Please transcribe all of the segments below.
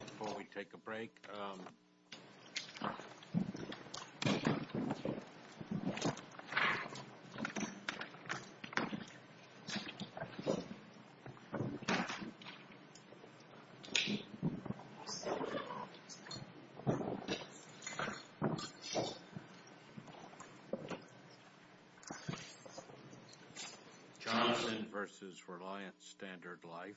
Before we take a break... Johnson v. Reliance Standard Life Johnson v. Reliance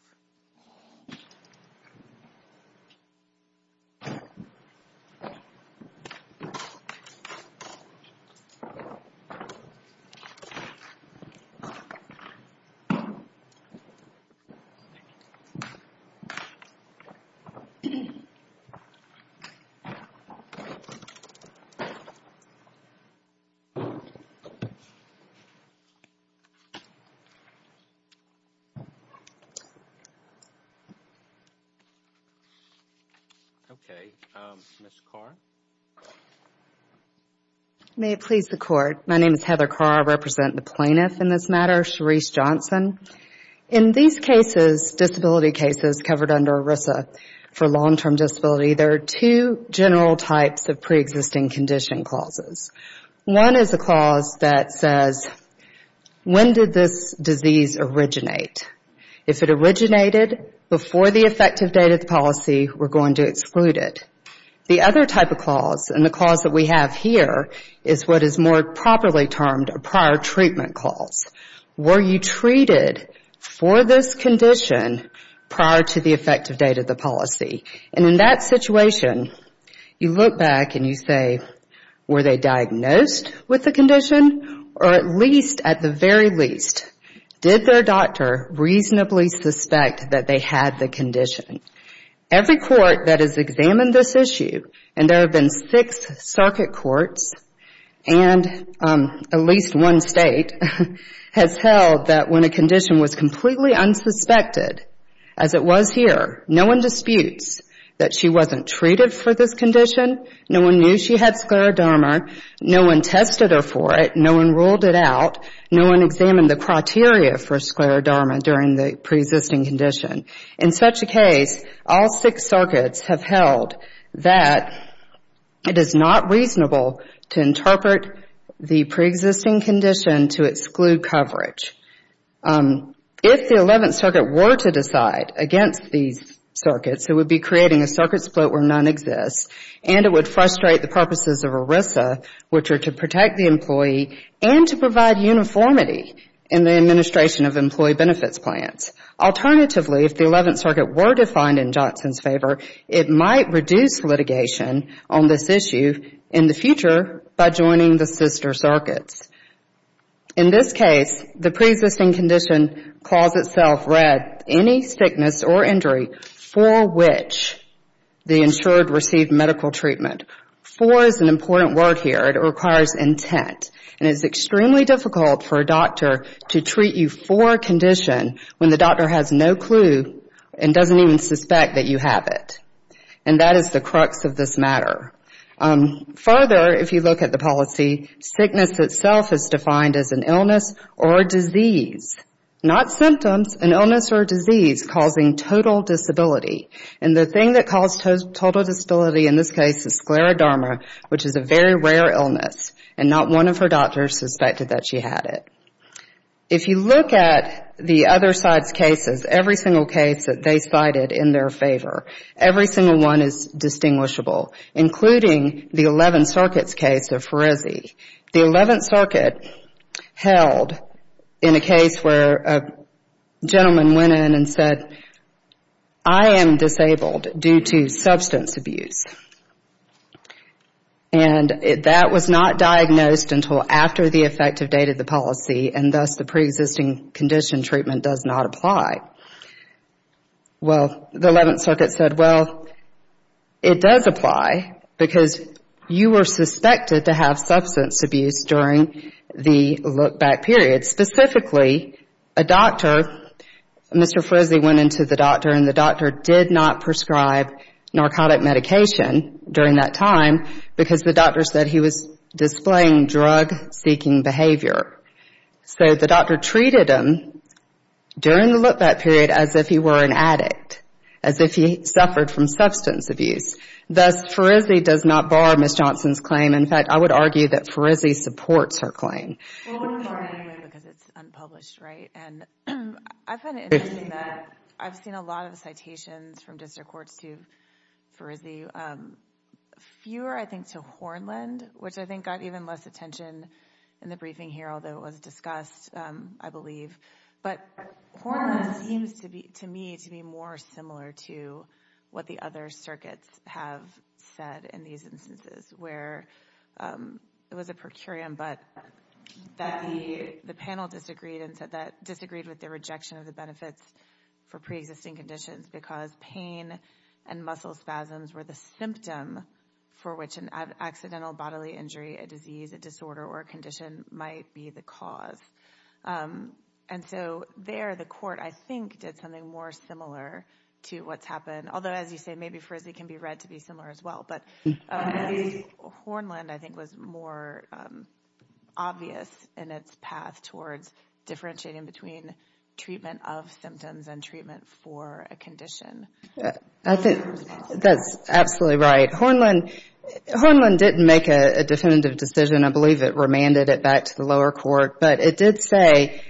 Okay. Ms. Carr. May it please the Court. My name is Heather Carr. I represent the plaintiff in this matter, Cherise Johnson. In these cases, disability cases covered under ERISA for long-term disability, there are two general types of preexisting condition clauses. One is a clause that says, when did this disease originate? If it originated before the effective date of the policy, we're going to exclude it. The other type of clause, and the clause that we have here, is what is more properly termed a prior treatment clause. Were you treated for this condition prior to the effective date of the policy? And in that situation, you look back and you say, were they diagnosed with the condition? Or at least, at the very least, did their doctor reasonably suspect that they had the condition? Every court that has examined this issue, and there have been six circuit courts and at least one state, has held that when a condition was completely unsuspected, as it was here, no one disputes that she wasn't treated for this condition. No one knew she had scleroderma. No one tested her for it. No one ruled it out. No one examined the criteria for scleroderma during the preexisting condition. In such a case, all six circuits have held that it is not reasonable to interpret the preexisting condition to exclude coverage. If the Eleventh Circuit were to decide against these circuits, it would be creating a circuit split where none exists, and it would frustrate the purposes of ERISA, which are to protect the employee and to provide uniformity in the administration of employee benefits plans. Alternatively, if the Eleventh Circuit were defined in Johnson's favor, it might reduce litigation on this issue in the future by joining the sister circuits. In this case, the preexisting condition calls itself read, any sickness or injury for which the insured received medical treatment. For is an important word here. It requires intent. It is extremely difficult for a doctor to treat you for a condition when the doctor has no clue and doesn't even suspect that you have it. And that is the crux of this matter. Further, if you look at the policy, sickness itself is defined as an illness or disease. Not symptoms, an illness or disease causing total disability. And the thing that caused total disability in this case is scleroderma, which is a very rare illness. And not one of her doctors suspected that she had it. If you look at the other side's cases, every single case that they cited in their favor, every single one is distinguishable, including the Eleventh Circuit's case of Ferrizzi. The Eleventh Circuit held in a case where a gentleman went in and said, I am disabled due to substance abuse. And that was not diagnosed until after the effective date of the policy, and thus the preexisting condition treatment does not apply. Well, the Eleventh Circuit said, well, it does apply, because you were suspected to have substance abuse during the look-back period. Specifically, a doctor, Mr. Ferrizzi went into the doctor, and the doctor did not prescribe narcotic medication during that time, because the doctor said he was displaying drug-seeking behavior. So the doctor treated him during the look-back period as if he were an addict, as if he suffered from substance abuse. Thus, Ferrizzi does not bar Ms. Johnson's claim. In fact, I would argue that Ferrizzi supports her claim. Well, it would bar it anyway, because it's unpublished, right? And I find it interesting that I've seen a lot of citations from district courts to Ferrizzi. Fewer, I think, to Hornland, which I think got even less attention in the briefing here, although it was discussed, I believe. But Hornland seems to me to be more similar to what the other circuits have said in these instances, where it was a per curiam, but that the panel disagreed with the rejection of the benefits for preexisting conditions, because pain and muscle spasms were the symptom for which an accidental bodily injury, a disease, a disorder, or a condition might be the cause. And so there the court, I think, did something more similar to what's happened. Although, as you say, maybe Ferrizzi can be read to be similar as well. But Hornland, I think, was more obvious in its path towards differentiating between treatment of symptoms and treatment for a condition. I think that's absolutely right. Hornland didn't make a definitive decision. I believe it remanded it back to the lower court. But it did say,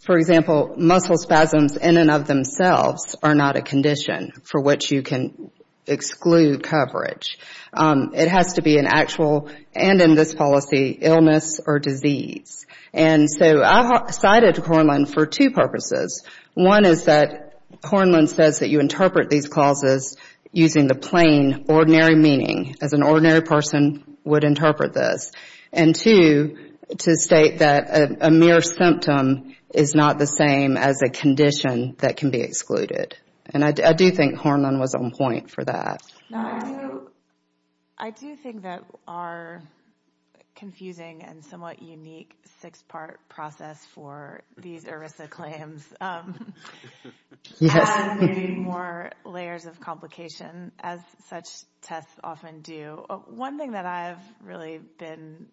for example, muscle spasms in and of themselves are not a condition for which you can exclude coverage. It has to be an actual, and in this policy, illness or disease. And so I cited Hornland for two purposes. One is that Hornland says that you interpret these clauses using the plain, ordinary meaning, as an ordinary person would interpret this. And two, to state that a mere symptom is not the same as a condition that can be excluded. And I do think Hornland was on point for that. I do think that our confusing and somewhat unique six-part process for these ERISA claims has more layers of complication, as such tests often do. One thing that I've really been,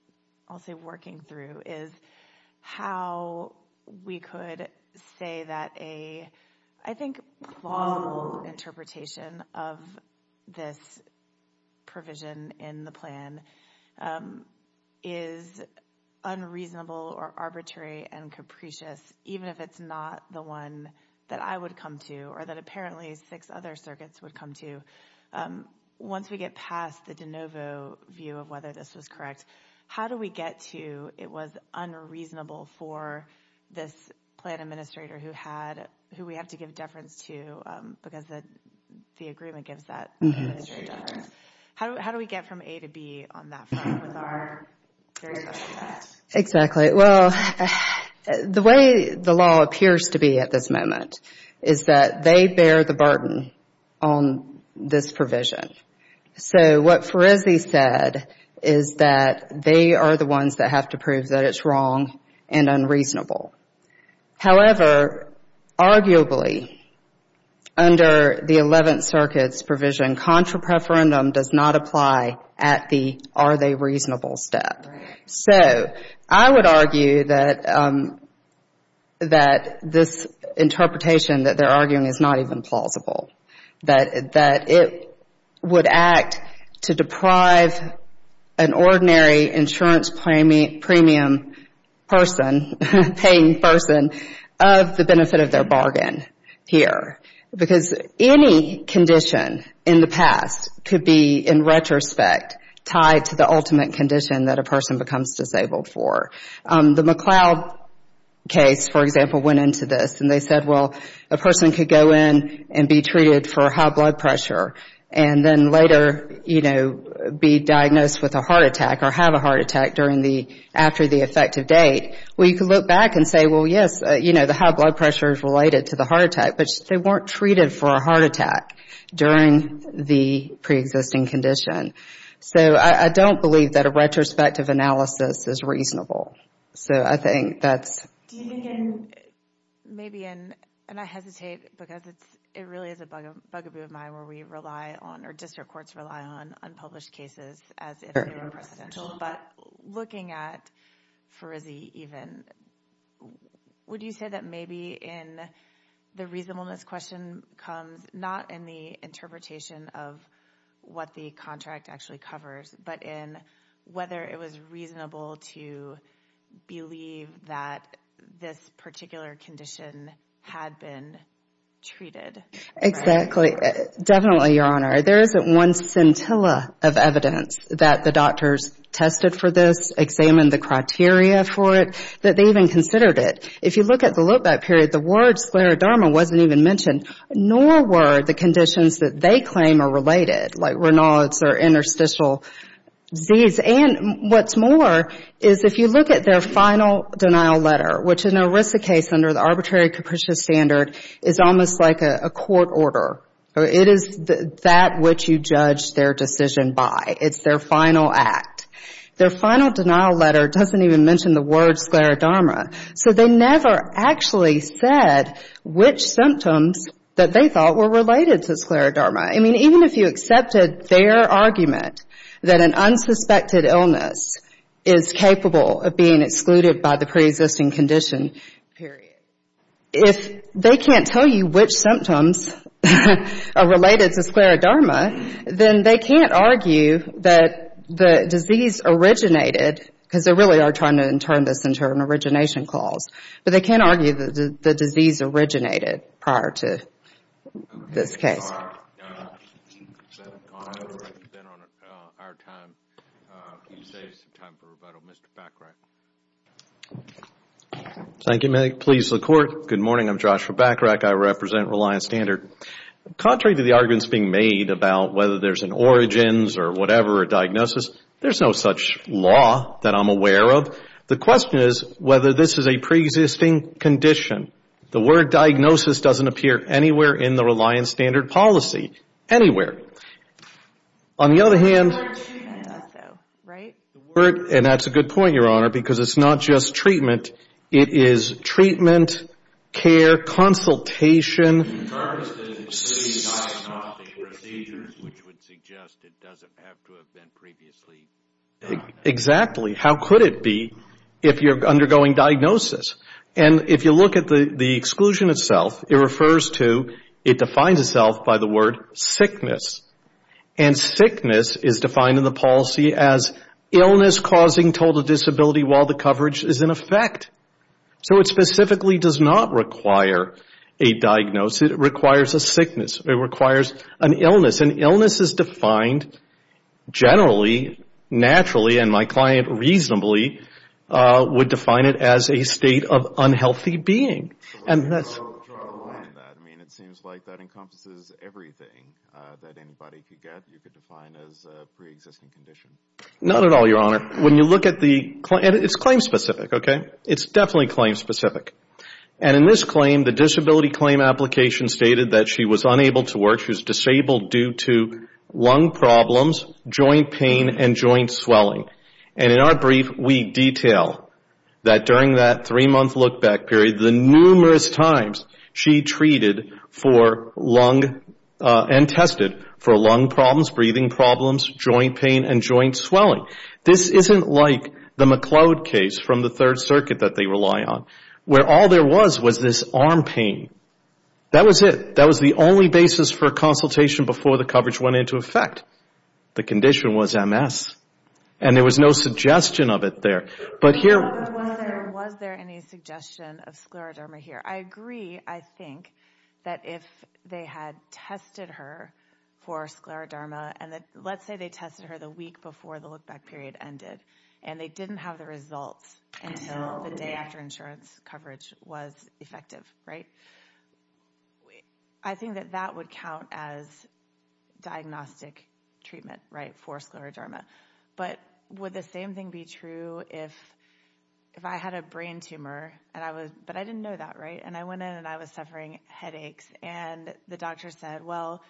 I'll say, working through is how we could say that a, I think, plausible interpretation of this provision in the plan is unreasonable or arbitrary and capricious, even if it's not the one that I would come to or that apparently six other circuits would come to. Once we get past the de novo view of whether this was correct, how do we get to, it was unreasonable for this plan administrator who we have to give deference to, because the agreement gives that administrative deference. How do we get from A to B on that front with our various other tests? Exactly. Well, the way the law appears to be at this moment is that they bear the burden on this provision. So what Ferrizzi said is that they are the ones that have to prove that it's wrong and unreasonable. However, arguably, under the Eleventh Circuit's provision, contra preferendum does not apply at the are they reasonable step. So I would argue that this interpretation that they're arguing is not even plausible, that it would act to deprive an ordinary insurance premium person, paying person, of the benefit of their bargain here, because any condition in the past could be, in retrospect, tied to the ultimate condition that a person becomes disabled for. The McLeod case, for example, went into this. And they said, well, a person could go in and be treated for high blood pressure and then later be diagnosed with a heart attack or have a heart attack after the effective date. Well, you could look back and say, well, yes, the high blood pressure is related to the heart attack, but they weren't treated for a heart attack during the preexisting condition. So I don't believe that a retrospective analysis is reasonable. So I think that's... Do you think in, maybe in, and I hesitate because it really is a bugaboo of mine where we rely on, or district courts rely on unpublished cases as if they were unprecedented, but looking at Farizi even, would you say that maybe in the reasonableness question comes, not in the interpretation of what the contract actually covers, but in whether it was reasonable to believe that this particular condition had been treated? Exactly. Definitely, Your Honor. There isn't one scintilla of evidence that the doctors tested for this, examined the criteria for it, that they even considered it. If you look at the look-back period, the word scleroderma wasn't even mentioned, nor were the conditions that they claim are related, like Raynaud's or interstitial disease. And what's more is if you look at their final denial letter, which in a RISA case under the arbitrary capricious standard is almost like a court order. It is that which you judge their decision by. It's their final act. Their final denial letter doesn't even mention the word scleroderma. So they never actually said which symptoms that they thought were related to scleroderma. I mean, even if you accepted their argument that an unsuspected illness is capable of being excluded by the preexisting condition, period. If they can't tell you which symptoms are related to scleroderma, then they can't argue that the disease originated, because they really are trying to turn this into an origination clause, but they can't argue that the disease originated prior to this case. Thank you. Thank you, Meg. Please, the Court. Good morning. I'm Joshua Bacharach. I represent Reliance Standard. Contrary to the arguments being made about whether there's an origins or whatever diagnosis, there's no such law that I'm aware of. The question is whether this is a preexisting condition. The word diagnosis doesn't appear anywhere in the Reliance Standard policy. Anywhere. On the other hand, the word, and that's a good point, Your Honor, because it's not just treatment. It is treatment, care, consultation. In terms of the diagnostic procedures, which would suggest it doesn't have to have been previously done. Exactly. How could it be if you're undergoing diagnosis? And if you look at the exclusion itself, it refers to, it defines itself by the word sickness. And sickness is defined in the policy as illness causing total disability while the coverage is in effect. So it specifically does not require a diagnosis. It requires a sickness. It requires an illness. And illness is defined generally, naturally, and my client reasonably would define it as a state of unhealthy being. So there's no trial and error in that. I mean, it seems like that encompasses everything that anybody could get. You could define it as a preexisting condition. Not at all, Your Honor. When you look at the, it's claim specific, okay? It's definitely claim specific. And in this claim, the disability claim application stated that she was unable to work. She was disabled due to lung problems, joint pain and joint swelling. And in our brief, we detail that during that three-month look back period, the numerous times she treated for lung and tested for lung problems, breathing problems, joint pain and joint swelling. This isn't like the McLeod case from the Third Circuit that they rely on, where all there was was this arm pain. That was it. That was the only basis for a consultation before the coverage went into effect. The condition was MS. And there was no suggestion of it there. But was there any suggestion of scleroderma here? I agree, I think, that if they had tested her for scleroderma, and let's say they tested her the week before the look back period ended, and they didn't have the results until the day after insurance coverage was effective, right? I think that that would count as diagnostic treatment for scleroderma. But would the same thing be true if I had a brain tumor, but I didn't know that, right? And I went in and I was suffering headaches, and the doctor said, well,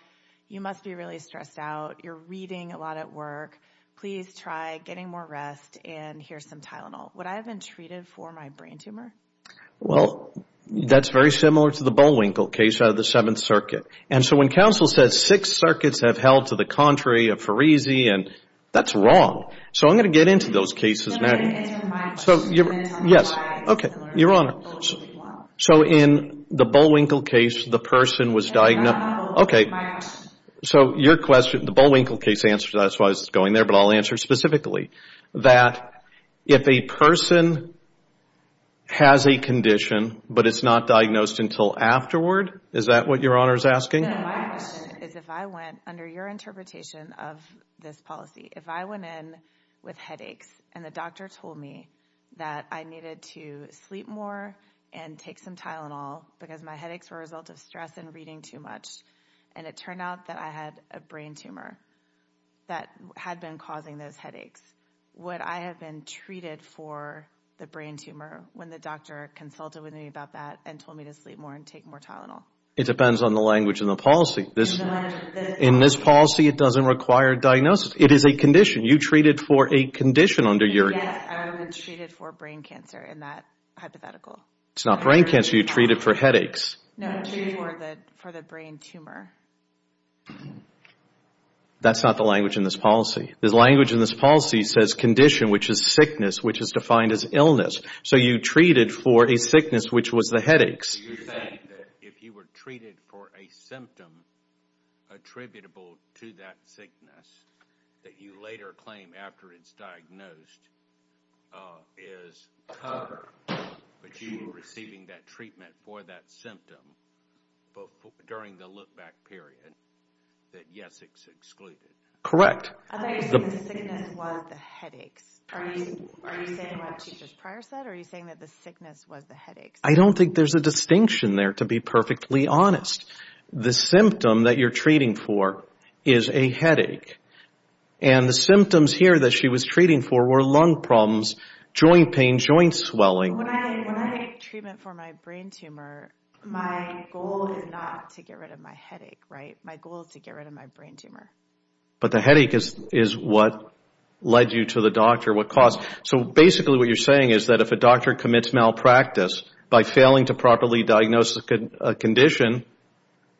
you must be really stressed out. You're reading a lot at work. Please try getting more rest and here's some Tylenol. Would I have been treated for my brain tumor? Well, that's very similar to the Bullwinkle case out of the Seventh Circuit. And so when counsel says six circuits have held to the contrary of Farese, and that's wrong. So I'm going to get into those cases now. So in the Bullwinkle case, the person was diagnosed. So your question, the Bullwinkle case answer, that's why it's going there, but I'll answer specifically. That if a person has a condition, but it's not diagnosed until afterward, is that what your Honor is asking? No, my question is if I went under your interpretation of this policy, if I went in with headaches, and the doctor told me that I needed to sleep more and take some Tylenol, because my headaches were a result of stress and reading too much, and it turned out that I had a brain tumor that had been causing those headaches, would I have been treated for the brain tumor when the doctor consulted with me about that and told me to sleep more and take more Tylenol? It depends on the language in the policy. In this policy, it doesn't require diagnosis. It is a condition. You treated for a condition under your... Yes, I was treated for brain cancer in that hypothetical. It's not brain cancer, you treated for headaches. That's not the language in this policy. The language in this policy says condition, which is sickness, which is defined as illness. So you treated for a sickness, which was the headaches. You're saying that if you were treated for a symptom attributable to that sickness that you later claim after it's diagnosed is cover, but you were receiving that treatment for that symptom during the look-back period, that yes, it's excluded. Correct. I don't think there's a distinction there, to be perfectly honest. The symptom that you're treating for is a headache, and the symptoms here that she was treating for were lung problems, joint pain, joint swelling. When I take treatment for my brain tumor, my goal is not to get rid of my headache, right? My goal is to get rid of my brain tumor. But the headache is what led you to the doctor, what caused... So basically what you're saying is that if a doctor commits malpractice by failing to properly diagnose a condition,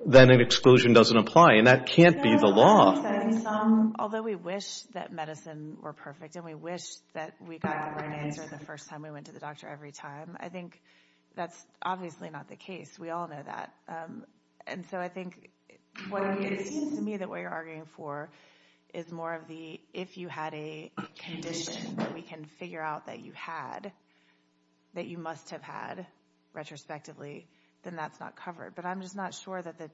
then an exclusion doesn't apply, and that can't be the law. Although we wish that medicine were perfect, and we wish that we got the right answer the first time we went to the doctor every time, I think that's obviously not the case. We all know that. It seems to me that what you're arguing for is more of the, if you had a condition that we can figure out that you had, that you must have had retrospectively, then that's not covered. But I'm just not sure that the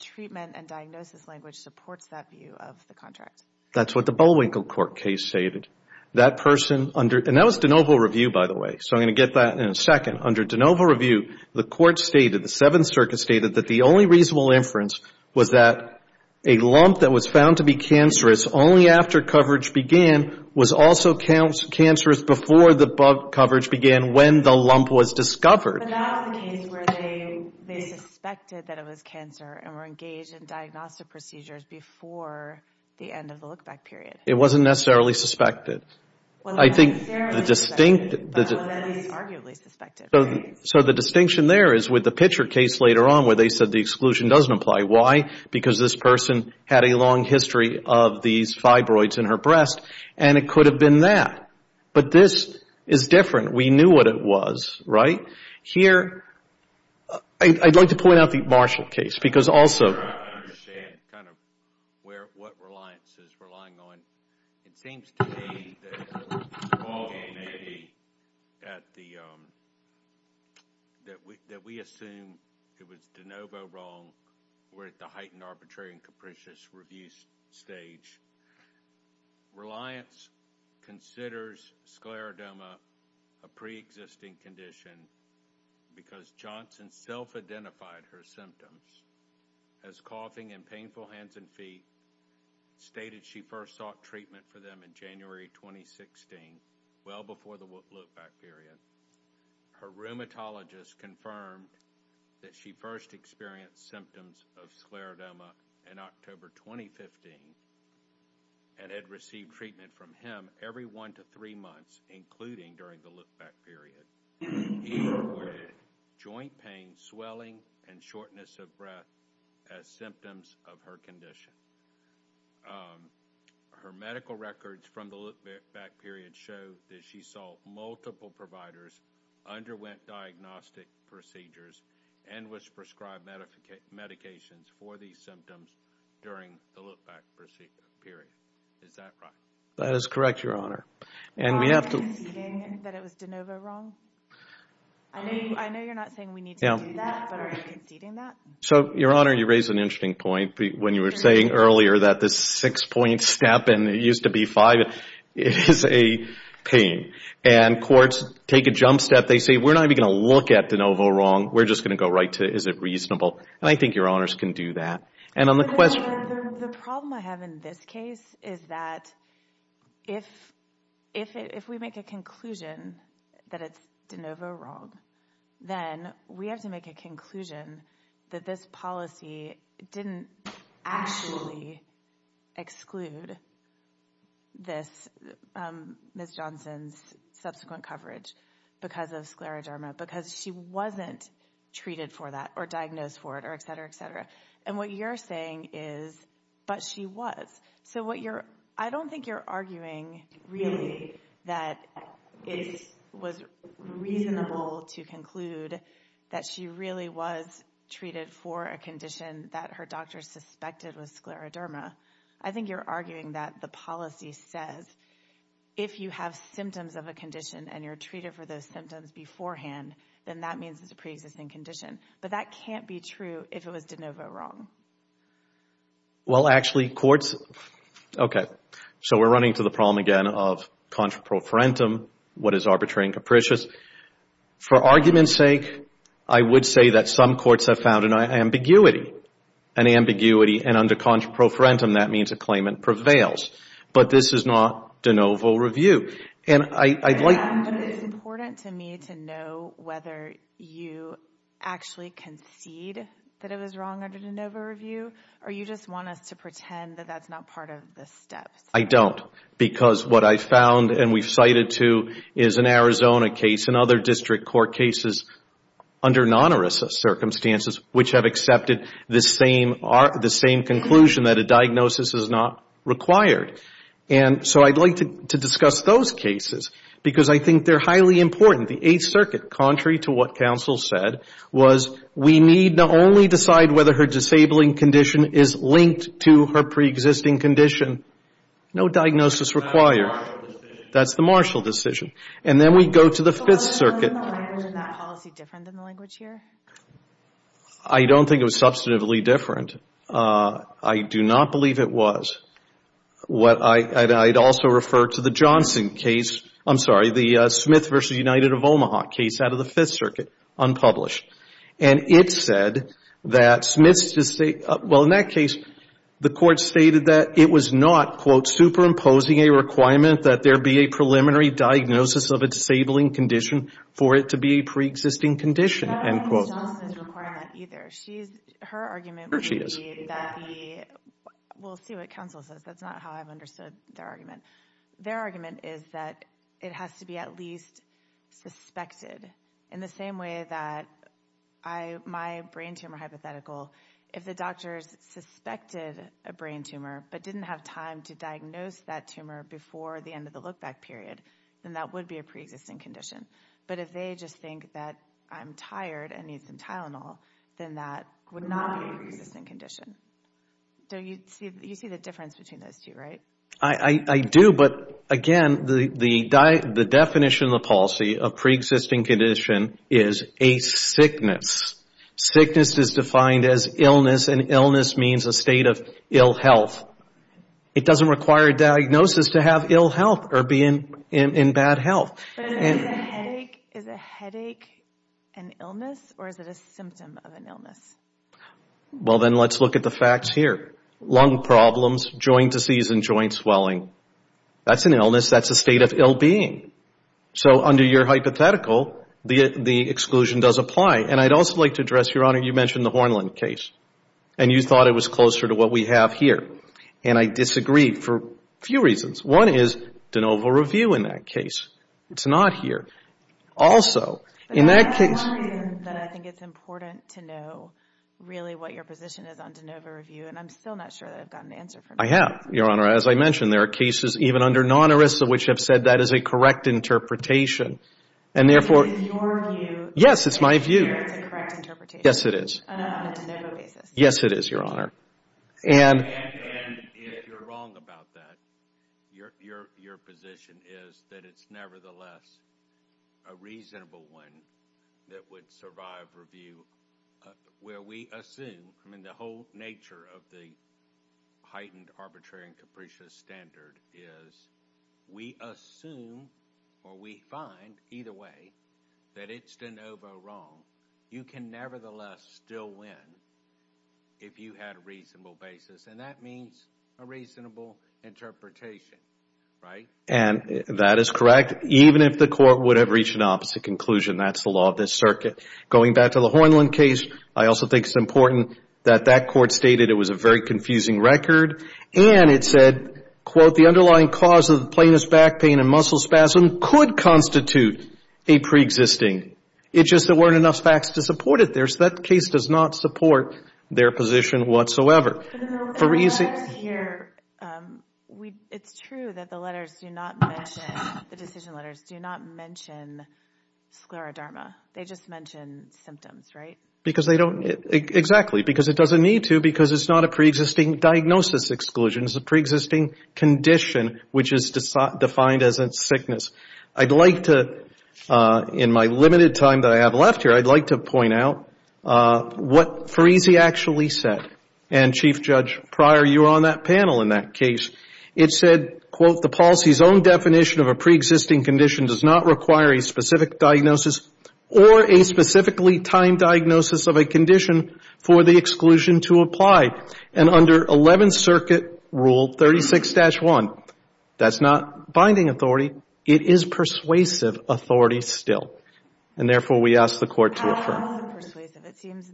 treatment and diagnosis language supports that view of the contract. That's what the Bullwinkle Court case stated. And that was de novo review, by the way, so I'm going to get that in a second. Under de novo review, the court stated, the Seventh Circuit stated that the only reasonable inference was that a lump that was found to be cancerous only after coverage began was also cancerous before the bug coverage began when the lump was discovered. But that was the case where they suspected that it was cancer and were engaged in diagnostic procedures before the end of the trial. It wasn't necessarily suspected. So the distinction there is with the Pitcher case later on where they said the exclusion doesn't apply. Why? Because this person had a long history of these fibroids in her breast and it could have been that. But this is different. We knew what it was, right? Here, I'd like to point out the Marshall case because also... It seems to me that we assume it was de novo wrong. We're at the heightened arbitrary and capricious review stage. Reliance considers scleroderma a pre-existing condition because Johnson self-identified her symptoms. As coughing and painful hands and feet, stated she first sought treatment for them in January 2016, well before the look-back period. Her rheumatologist confirmed that she first experienced symptoms of scleroderma in October 2015 and had received treatment from him every one to three months, including during the look-back period. He reported joint pain, swelling, and shortness of breath as symptoms of her condition. Her medical records from the look-back period show that she saw multiple providers, underwent diagnostic procedures, and was prescribed medications for these symptoms during the look-back period. That is correct, Your Honor. So, Your Honor, you raise an interesting point when you were saying earlier that this six-point step, and it used to be five, is a pain. And courts take a jump step. They say, we're not even going to look at de novo wrong. We're just going to go right to, is it reasonable? And I think Your Honors can do that. The problem I have in this case is that if we make a conclusion that it's de novo wrong, then we have to make a conclusion that this policy didn't actually exclude Ms. Johnson's subsequent coverage because of scleroderma, because she wasn't treated for that, or diagnosed for it, or et cetera, et cetera. And what you're saying is, but she was. So I don't think you're arguing really that it was reasonable to conclude that she really was treated for a condition that her doctor suspected was scleroderma. I think you're arguing that the policy says if you have symptoms of a condition and you're treated for those symptoms beforehand, then that means it's a preexisting condition. But that can't be true if it was de novo wrong. Well, actually, courts, okay, so we're running to the problem again of contra pro farentum, what is arbitrary and capricious. For argument's sake, I would say that some courts have found an ambiguity. An ambiguity, and under contra pro farentum, that means a claimant prevails. But this is not de novo review. It's important to me to know whether you actually concede that it was wrong under de novo review, or you just want us to pretend that that's not part of the steps. I don't, because what I found and we've cited to is an Arizona case and other district court cases under non-ERISA circumstances, which have accepted the same conclusion that a diagnosis is not required. And so I'd like to discuss those cases, because I think they're highly important. The Eighth Circuit, contrary to what counsel said, was we need to only decide whether her disabling condition is linked to her preexisting condition. No diagnosis required. That's the Marshall decision. And then we go to the Fifth Circuit. I don't think it was substantively different. I do not believe it was. I'd also refer to the Johnson case, I'm sorry, the Smith v. United of Omaha case out of the Fifth Circuit, unpublished. And it said that Smith's, well, in that case, the court stated that it was not, quote, superimposing a requirement that there be a preliminary diagnosis of a disabling condition for it to be a preexisting condition, end quote. Ms. Johnson is requiring that either. We'll see what counsel says. That's not how I've understood their argument. Their argument is that it has to be at least suspected in the same way that my brain tumor hypothetical, if the doctors suspected a brain tumor but didn't have time to diagnose that tumor before the end of the look-back period, then that would be a preexisting condition. But if they just think that I'm tired and need some Tylenol, then that would not be a preexisting condition. You see the difference between those two, right? I do, but again, the definition of the policy of preexisting condition is a sickness. Sickness is defined as illness, and illness means a state of ill health. It doesn't require a diagnosis to have ill health or be in bad health. Is a headache an illness, or is it a symptom of an illness? Well, then let's look at the facts here. Lung problems, joint disease and joint swelling, that's an illness. That's a state of ill being. So under your hypothetical, the exclusion does apply. And I'd also like to address, Your Honor, you mentioned the Hornland case, and you thought it was closer to what we have here. And I disagree for a few reasons. One is de novo review in that case. It's not here. Also, in that case... I have, Your Honor. As I mentioned, there are cases even under non-ERISA which have said that is a correct interpretation. And therefore... Yes, it is, Your Honor. And if you're wrong about that, your position is that it's nevertheless a reasonable one that would survive review. Where we assume, I mean, the whole nature of the heightened arbitrary and capricious standard is we assume or we find, either way, that it's de novo wrong. You can nevertheless still win if you had a reasonable basis. And that means a reasonable interpretation, right? And that is correct, even if the court would have reached an opposite conclusion. That's the law of this circuit. Going back to the Hornland case, I also think it's important that that court stated it was a very confusing record. And it said, quote, the underlying cause of the plaintiff's back pain and muscle spasm could constitute a preexisting. It's just there weren't enough facts to support it there, so that case does not support their position whatsoever. It's true that the letters do not mention, the decision letters do not mention scleroderma. They just mention symptoms, right? Because they don't, exactly, because it doesn't need to, because it's not a preexisting diagnosis exclusion. It's a preexisting condition, which is defined as a sickness. I'd like to, in my limited time that I have left here, I'd like to point out what Parisi actually said. And, Chief Judge Pryor, you were on that panel in that case. It said, quote, the policy's own definition of a preexisting condition does not require a specific diagnosis or a specifically timed diagnosis of a condition for the exclusion to apply. And under Eleventh Circuit Rule 36-1, that's not binding authority. It is persuasive authority still. And therefore, we ask the Court to affirm. It seems,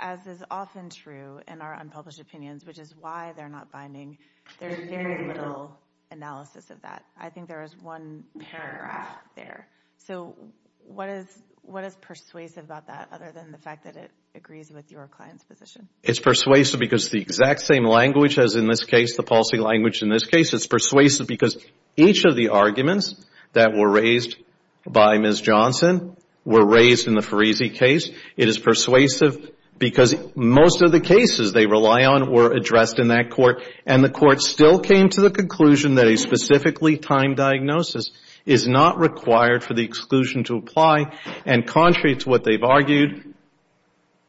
as is often true in our unpublished opinions, which is why they're not binding, there's very little analysis of that. I think there is one paragraph there. So, what is persuasive about that, other than the fact that it agrees with your client's position? It's persuasive because it's the exact same language as in this case, the policy language in this case. It's persuasive because each of the arguments that were raised by Ms. Johnson were raised in the Parisi case. It is persuasive because most of the cases they rely on were addressed in that court, and the Court still came to the conclusion that a specifically timed diagnosis is not required for the exclusion to apply. And contrary to what they've argued,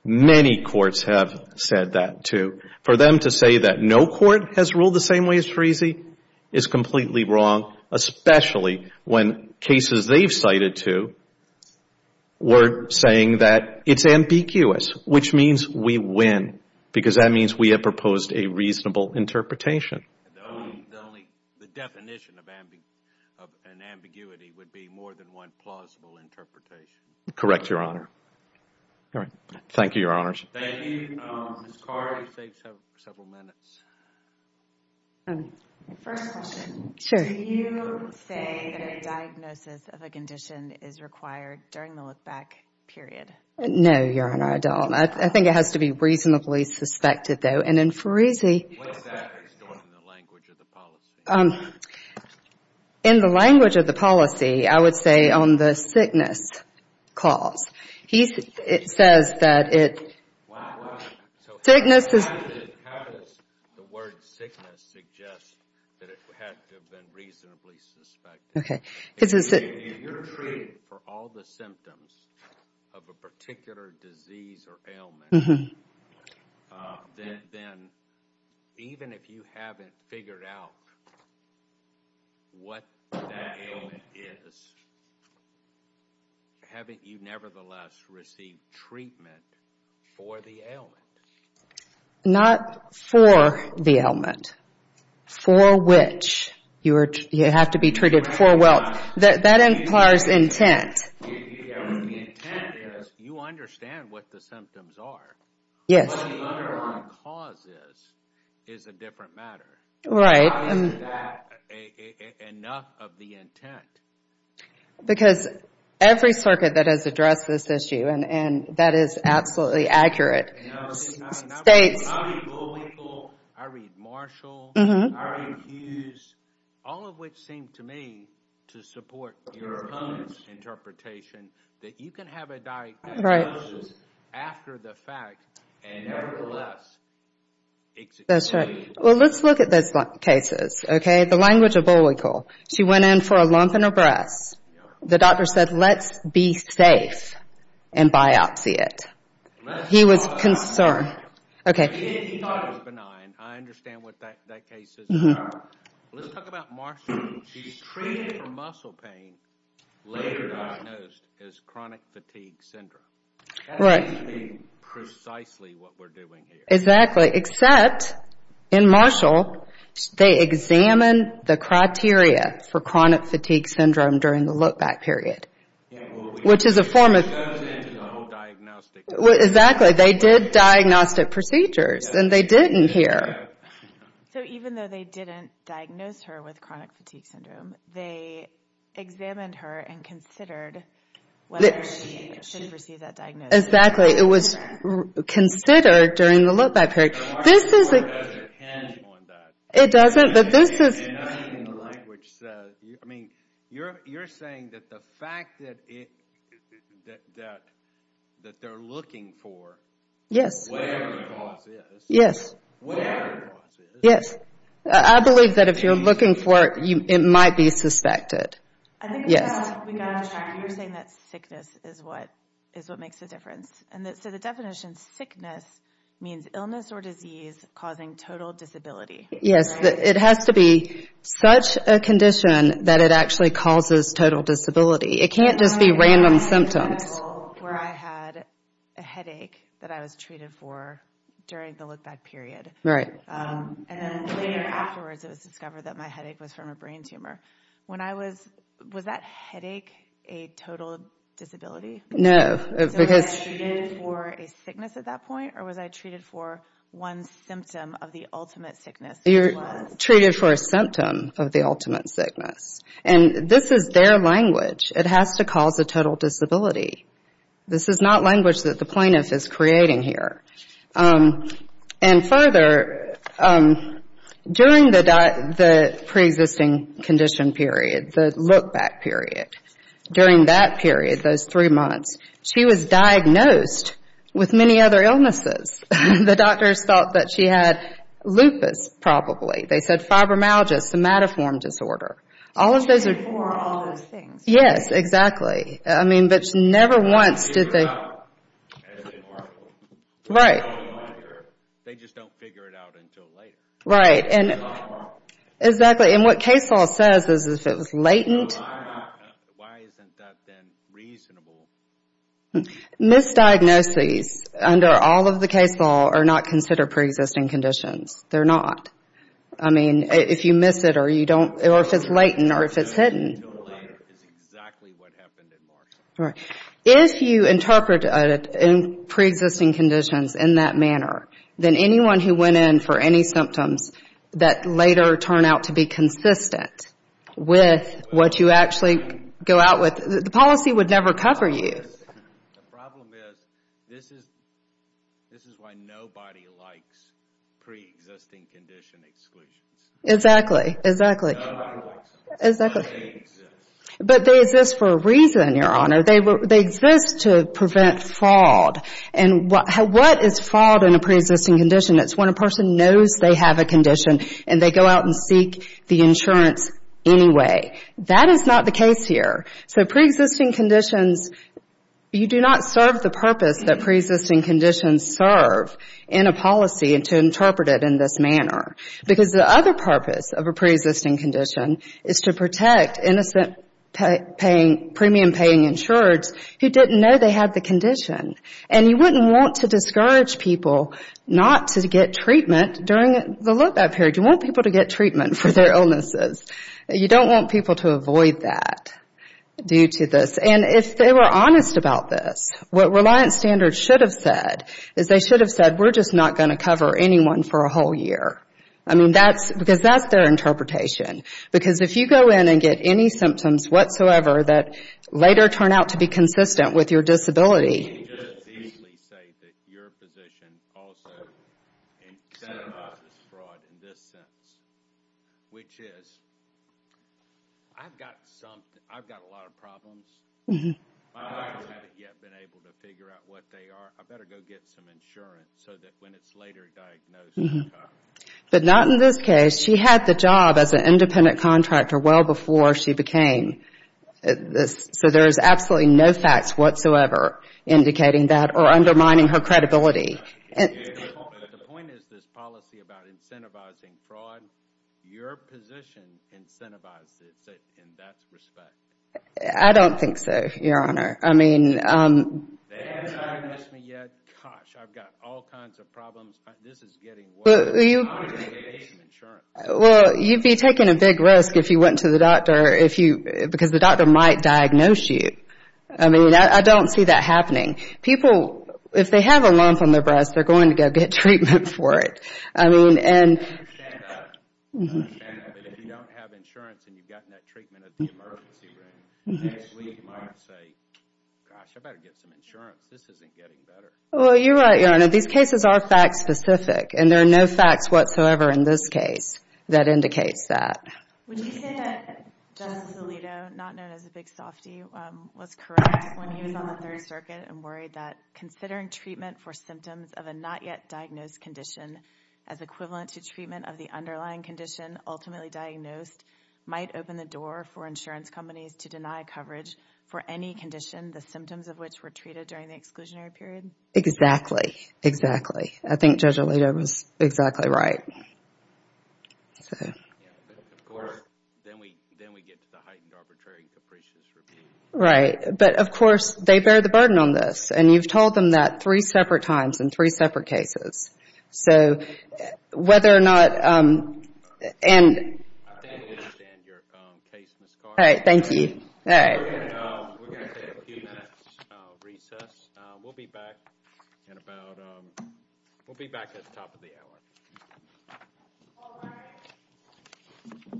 many courts have said that, too. For them to say that no court has ruled the same way as Parisi is completely wrong, especially when cases they've cited to were saying that it's ambiguous, which means we win, because that means we have proposed a reasonable interpretation. The definition of an ambiguity would be more than one plausible interpretation. Correct, Your Honor. Thank you, Your Honors. First question. Do you say that a diagnosis of a condition is required during the look-back period? No, Your Honor, I don't. I think it has to be reasonably suspected, though, and in Parisi What exactly is going on in the language of the policy? In the language of the policy, I would say on the sickness clause. It says that it How does the word sickness suggest that it had to have been reasonably suspected? Okay. Even if you haven't figured out what that ailment is, haven't you nevertheless received treatment for the ailment? Not for the ailment, for which you have to be treated for well. That implies intent. The intent is, you understand what the symptoms are, but the underlying cause is a different matter. How is that enough of the intent? Every circuit that has addressed this issue, and that is absolutely accurate, I read Bullwinkle, I read Marshall, I read Hughes, all of which seem to me to support Your Honor's interpretation that you can have a diagnosis after the fact and nevertheless execute. She went in for a lump in her breast. The doctor said let's be safe and biopsy it. He was concerned. Let's talk about Marshall. She's treated for muscle pain, later diagnosed as chronic fatigue syndrome. That seems to be precisely what we're doing here. Exactly, except in Marshall they examined the criteria for chronic fatigue syndrome during the look-back period. Which is a form of... Exactly, they did diagnostic procedures and they didn't hear. So even though they didn't diagnose her with chronic fatigue syndrome, they examined her and considered whether she should receive that diagnosis. Exactly, it was considered during the look-back period. You're saying that the fact that they're looking for... I believe that if you're looking for it, it might be suspected. You're saying that sickness is what makes the difference. So the definition is sickness means illness or disease causing total disability. Yes, it has to be such a condition that it actually causes total disability. It can't just be random symptoms. I had a headache that I was treated for during the look-back period. And then later afterwards it was discovered that my headache was from a brain tumor. Was that headache a total disability? So was I treated for a sickness at that point or was I treated for one symptom of the ultimate sickness? You're treated for a symptom of the ultimate sickness. And this is their language. It has to cause a total disability. This is not language that the plaintiff is creating here. And further, during the preexisting condition period, the look-back period, during that period, those three months, she was diagnosed with many other illnesses. The doctors thought that she had lupus probably. They said fibromyalgia, somatoform disorder. She was treated for all of those things. They just don't figure it out until later. Why isn't that then reasonable? Misdiagnoses under all of the case law are not considered preexisting conditions. They're not. I mean, if you miss it or if it's latent or if it's hidden. If you interpret preexisting conditions in that manner, then anyone who went in for any symptoms that later turn out to be consistent with what you actually go out with, the policy would never cover you. Exactly. But they exist for a reason, Your Honor. They exist to prevent fraud. And what is fraud in a preexisting condition? It's when a person knows they have a condition and they go out and seek the insurance anyway. That is not the case here. So preexisting conditions, you do not serve the purpose that preexisting conditions serve in a policy and to interpret it in this manner. Because the other purpose of a preexisting condition is to protect innocent premium-paying insurers who didn't know they had the condition. And you wouldn't want to discourage people not to get treatment during that period. You want people to get treatment for their illnesses. You don't want people to avoid that due to this. And if they were honest about this, what Reliance Standards should have said is they should have said, we're just not going to cover anyone for a whole year. I mean, because that's their interpretation. Because if you go in and get any symptoms whatsoever that later turn out to be consistent with your disability. You can just easily say that your position also incentivizes fraud in this sense, which is, I've got a lot of problems. My clients haven't yet been able to figure out what they are. I better go get some insurance so that when it's later diagnosed. But not in this case. She had the job as an independent contractor well before she became. So there is absolutely no facts whatsoever indicating that or undermining her credibility. The point is this policy about incentivizing fraud, your position incentivizes it in that respect. I don't think so, Your Honor. Gosh, I've got all kinds of problems. Well, you'd be taking a big risk if you went to the doctor. Because the doctor might diagnose you. I don't see that happening. People, if they have a lump on their breast, they're going to go get treatment for it. I understand that. But if you don't have insurance and you've gotten that treatment at the emergency room, you might say, gosh, I better get some insurance. This isn't getting better. Well, you're right, Your Honor. These cases are fact-specific, and there are no facts whatsoever in this case that indicates that. Would you say that Justice Alito, not known as a big softie, was correct when he was on the Third Circuit and worried that considering treatment for symptoms of a not-yet-diagnosed condition as equivalent to treatment of the underlying condition ultimately diagnosed might open the door for insurance companies to deny coverage for any condition, the symptoms of which were treated during the exclusionary period? Exactly. Exactly. I think Judge Alito was exactly right. Then we get to the heightened arbitrary capricious review. Right. But, of course, they bear the burden on this. And you've told them that three separate times in three separate cases. So whether or not... I fully understand your case, Ms. Carr. We're going to take a few minutes recess. We'll be back at the top of the hour.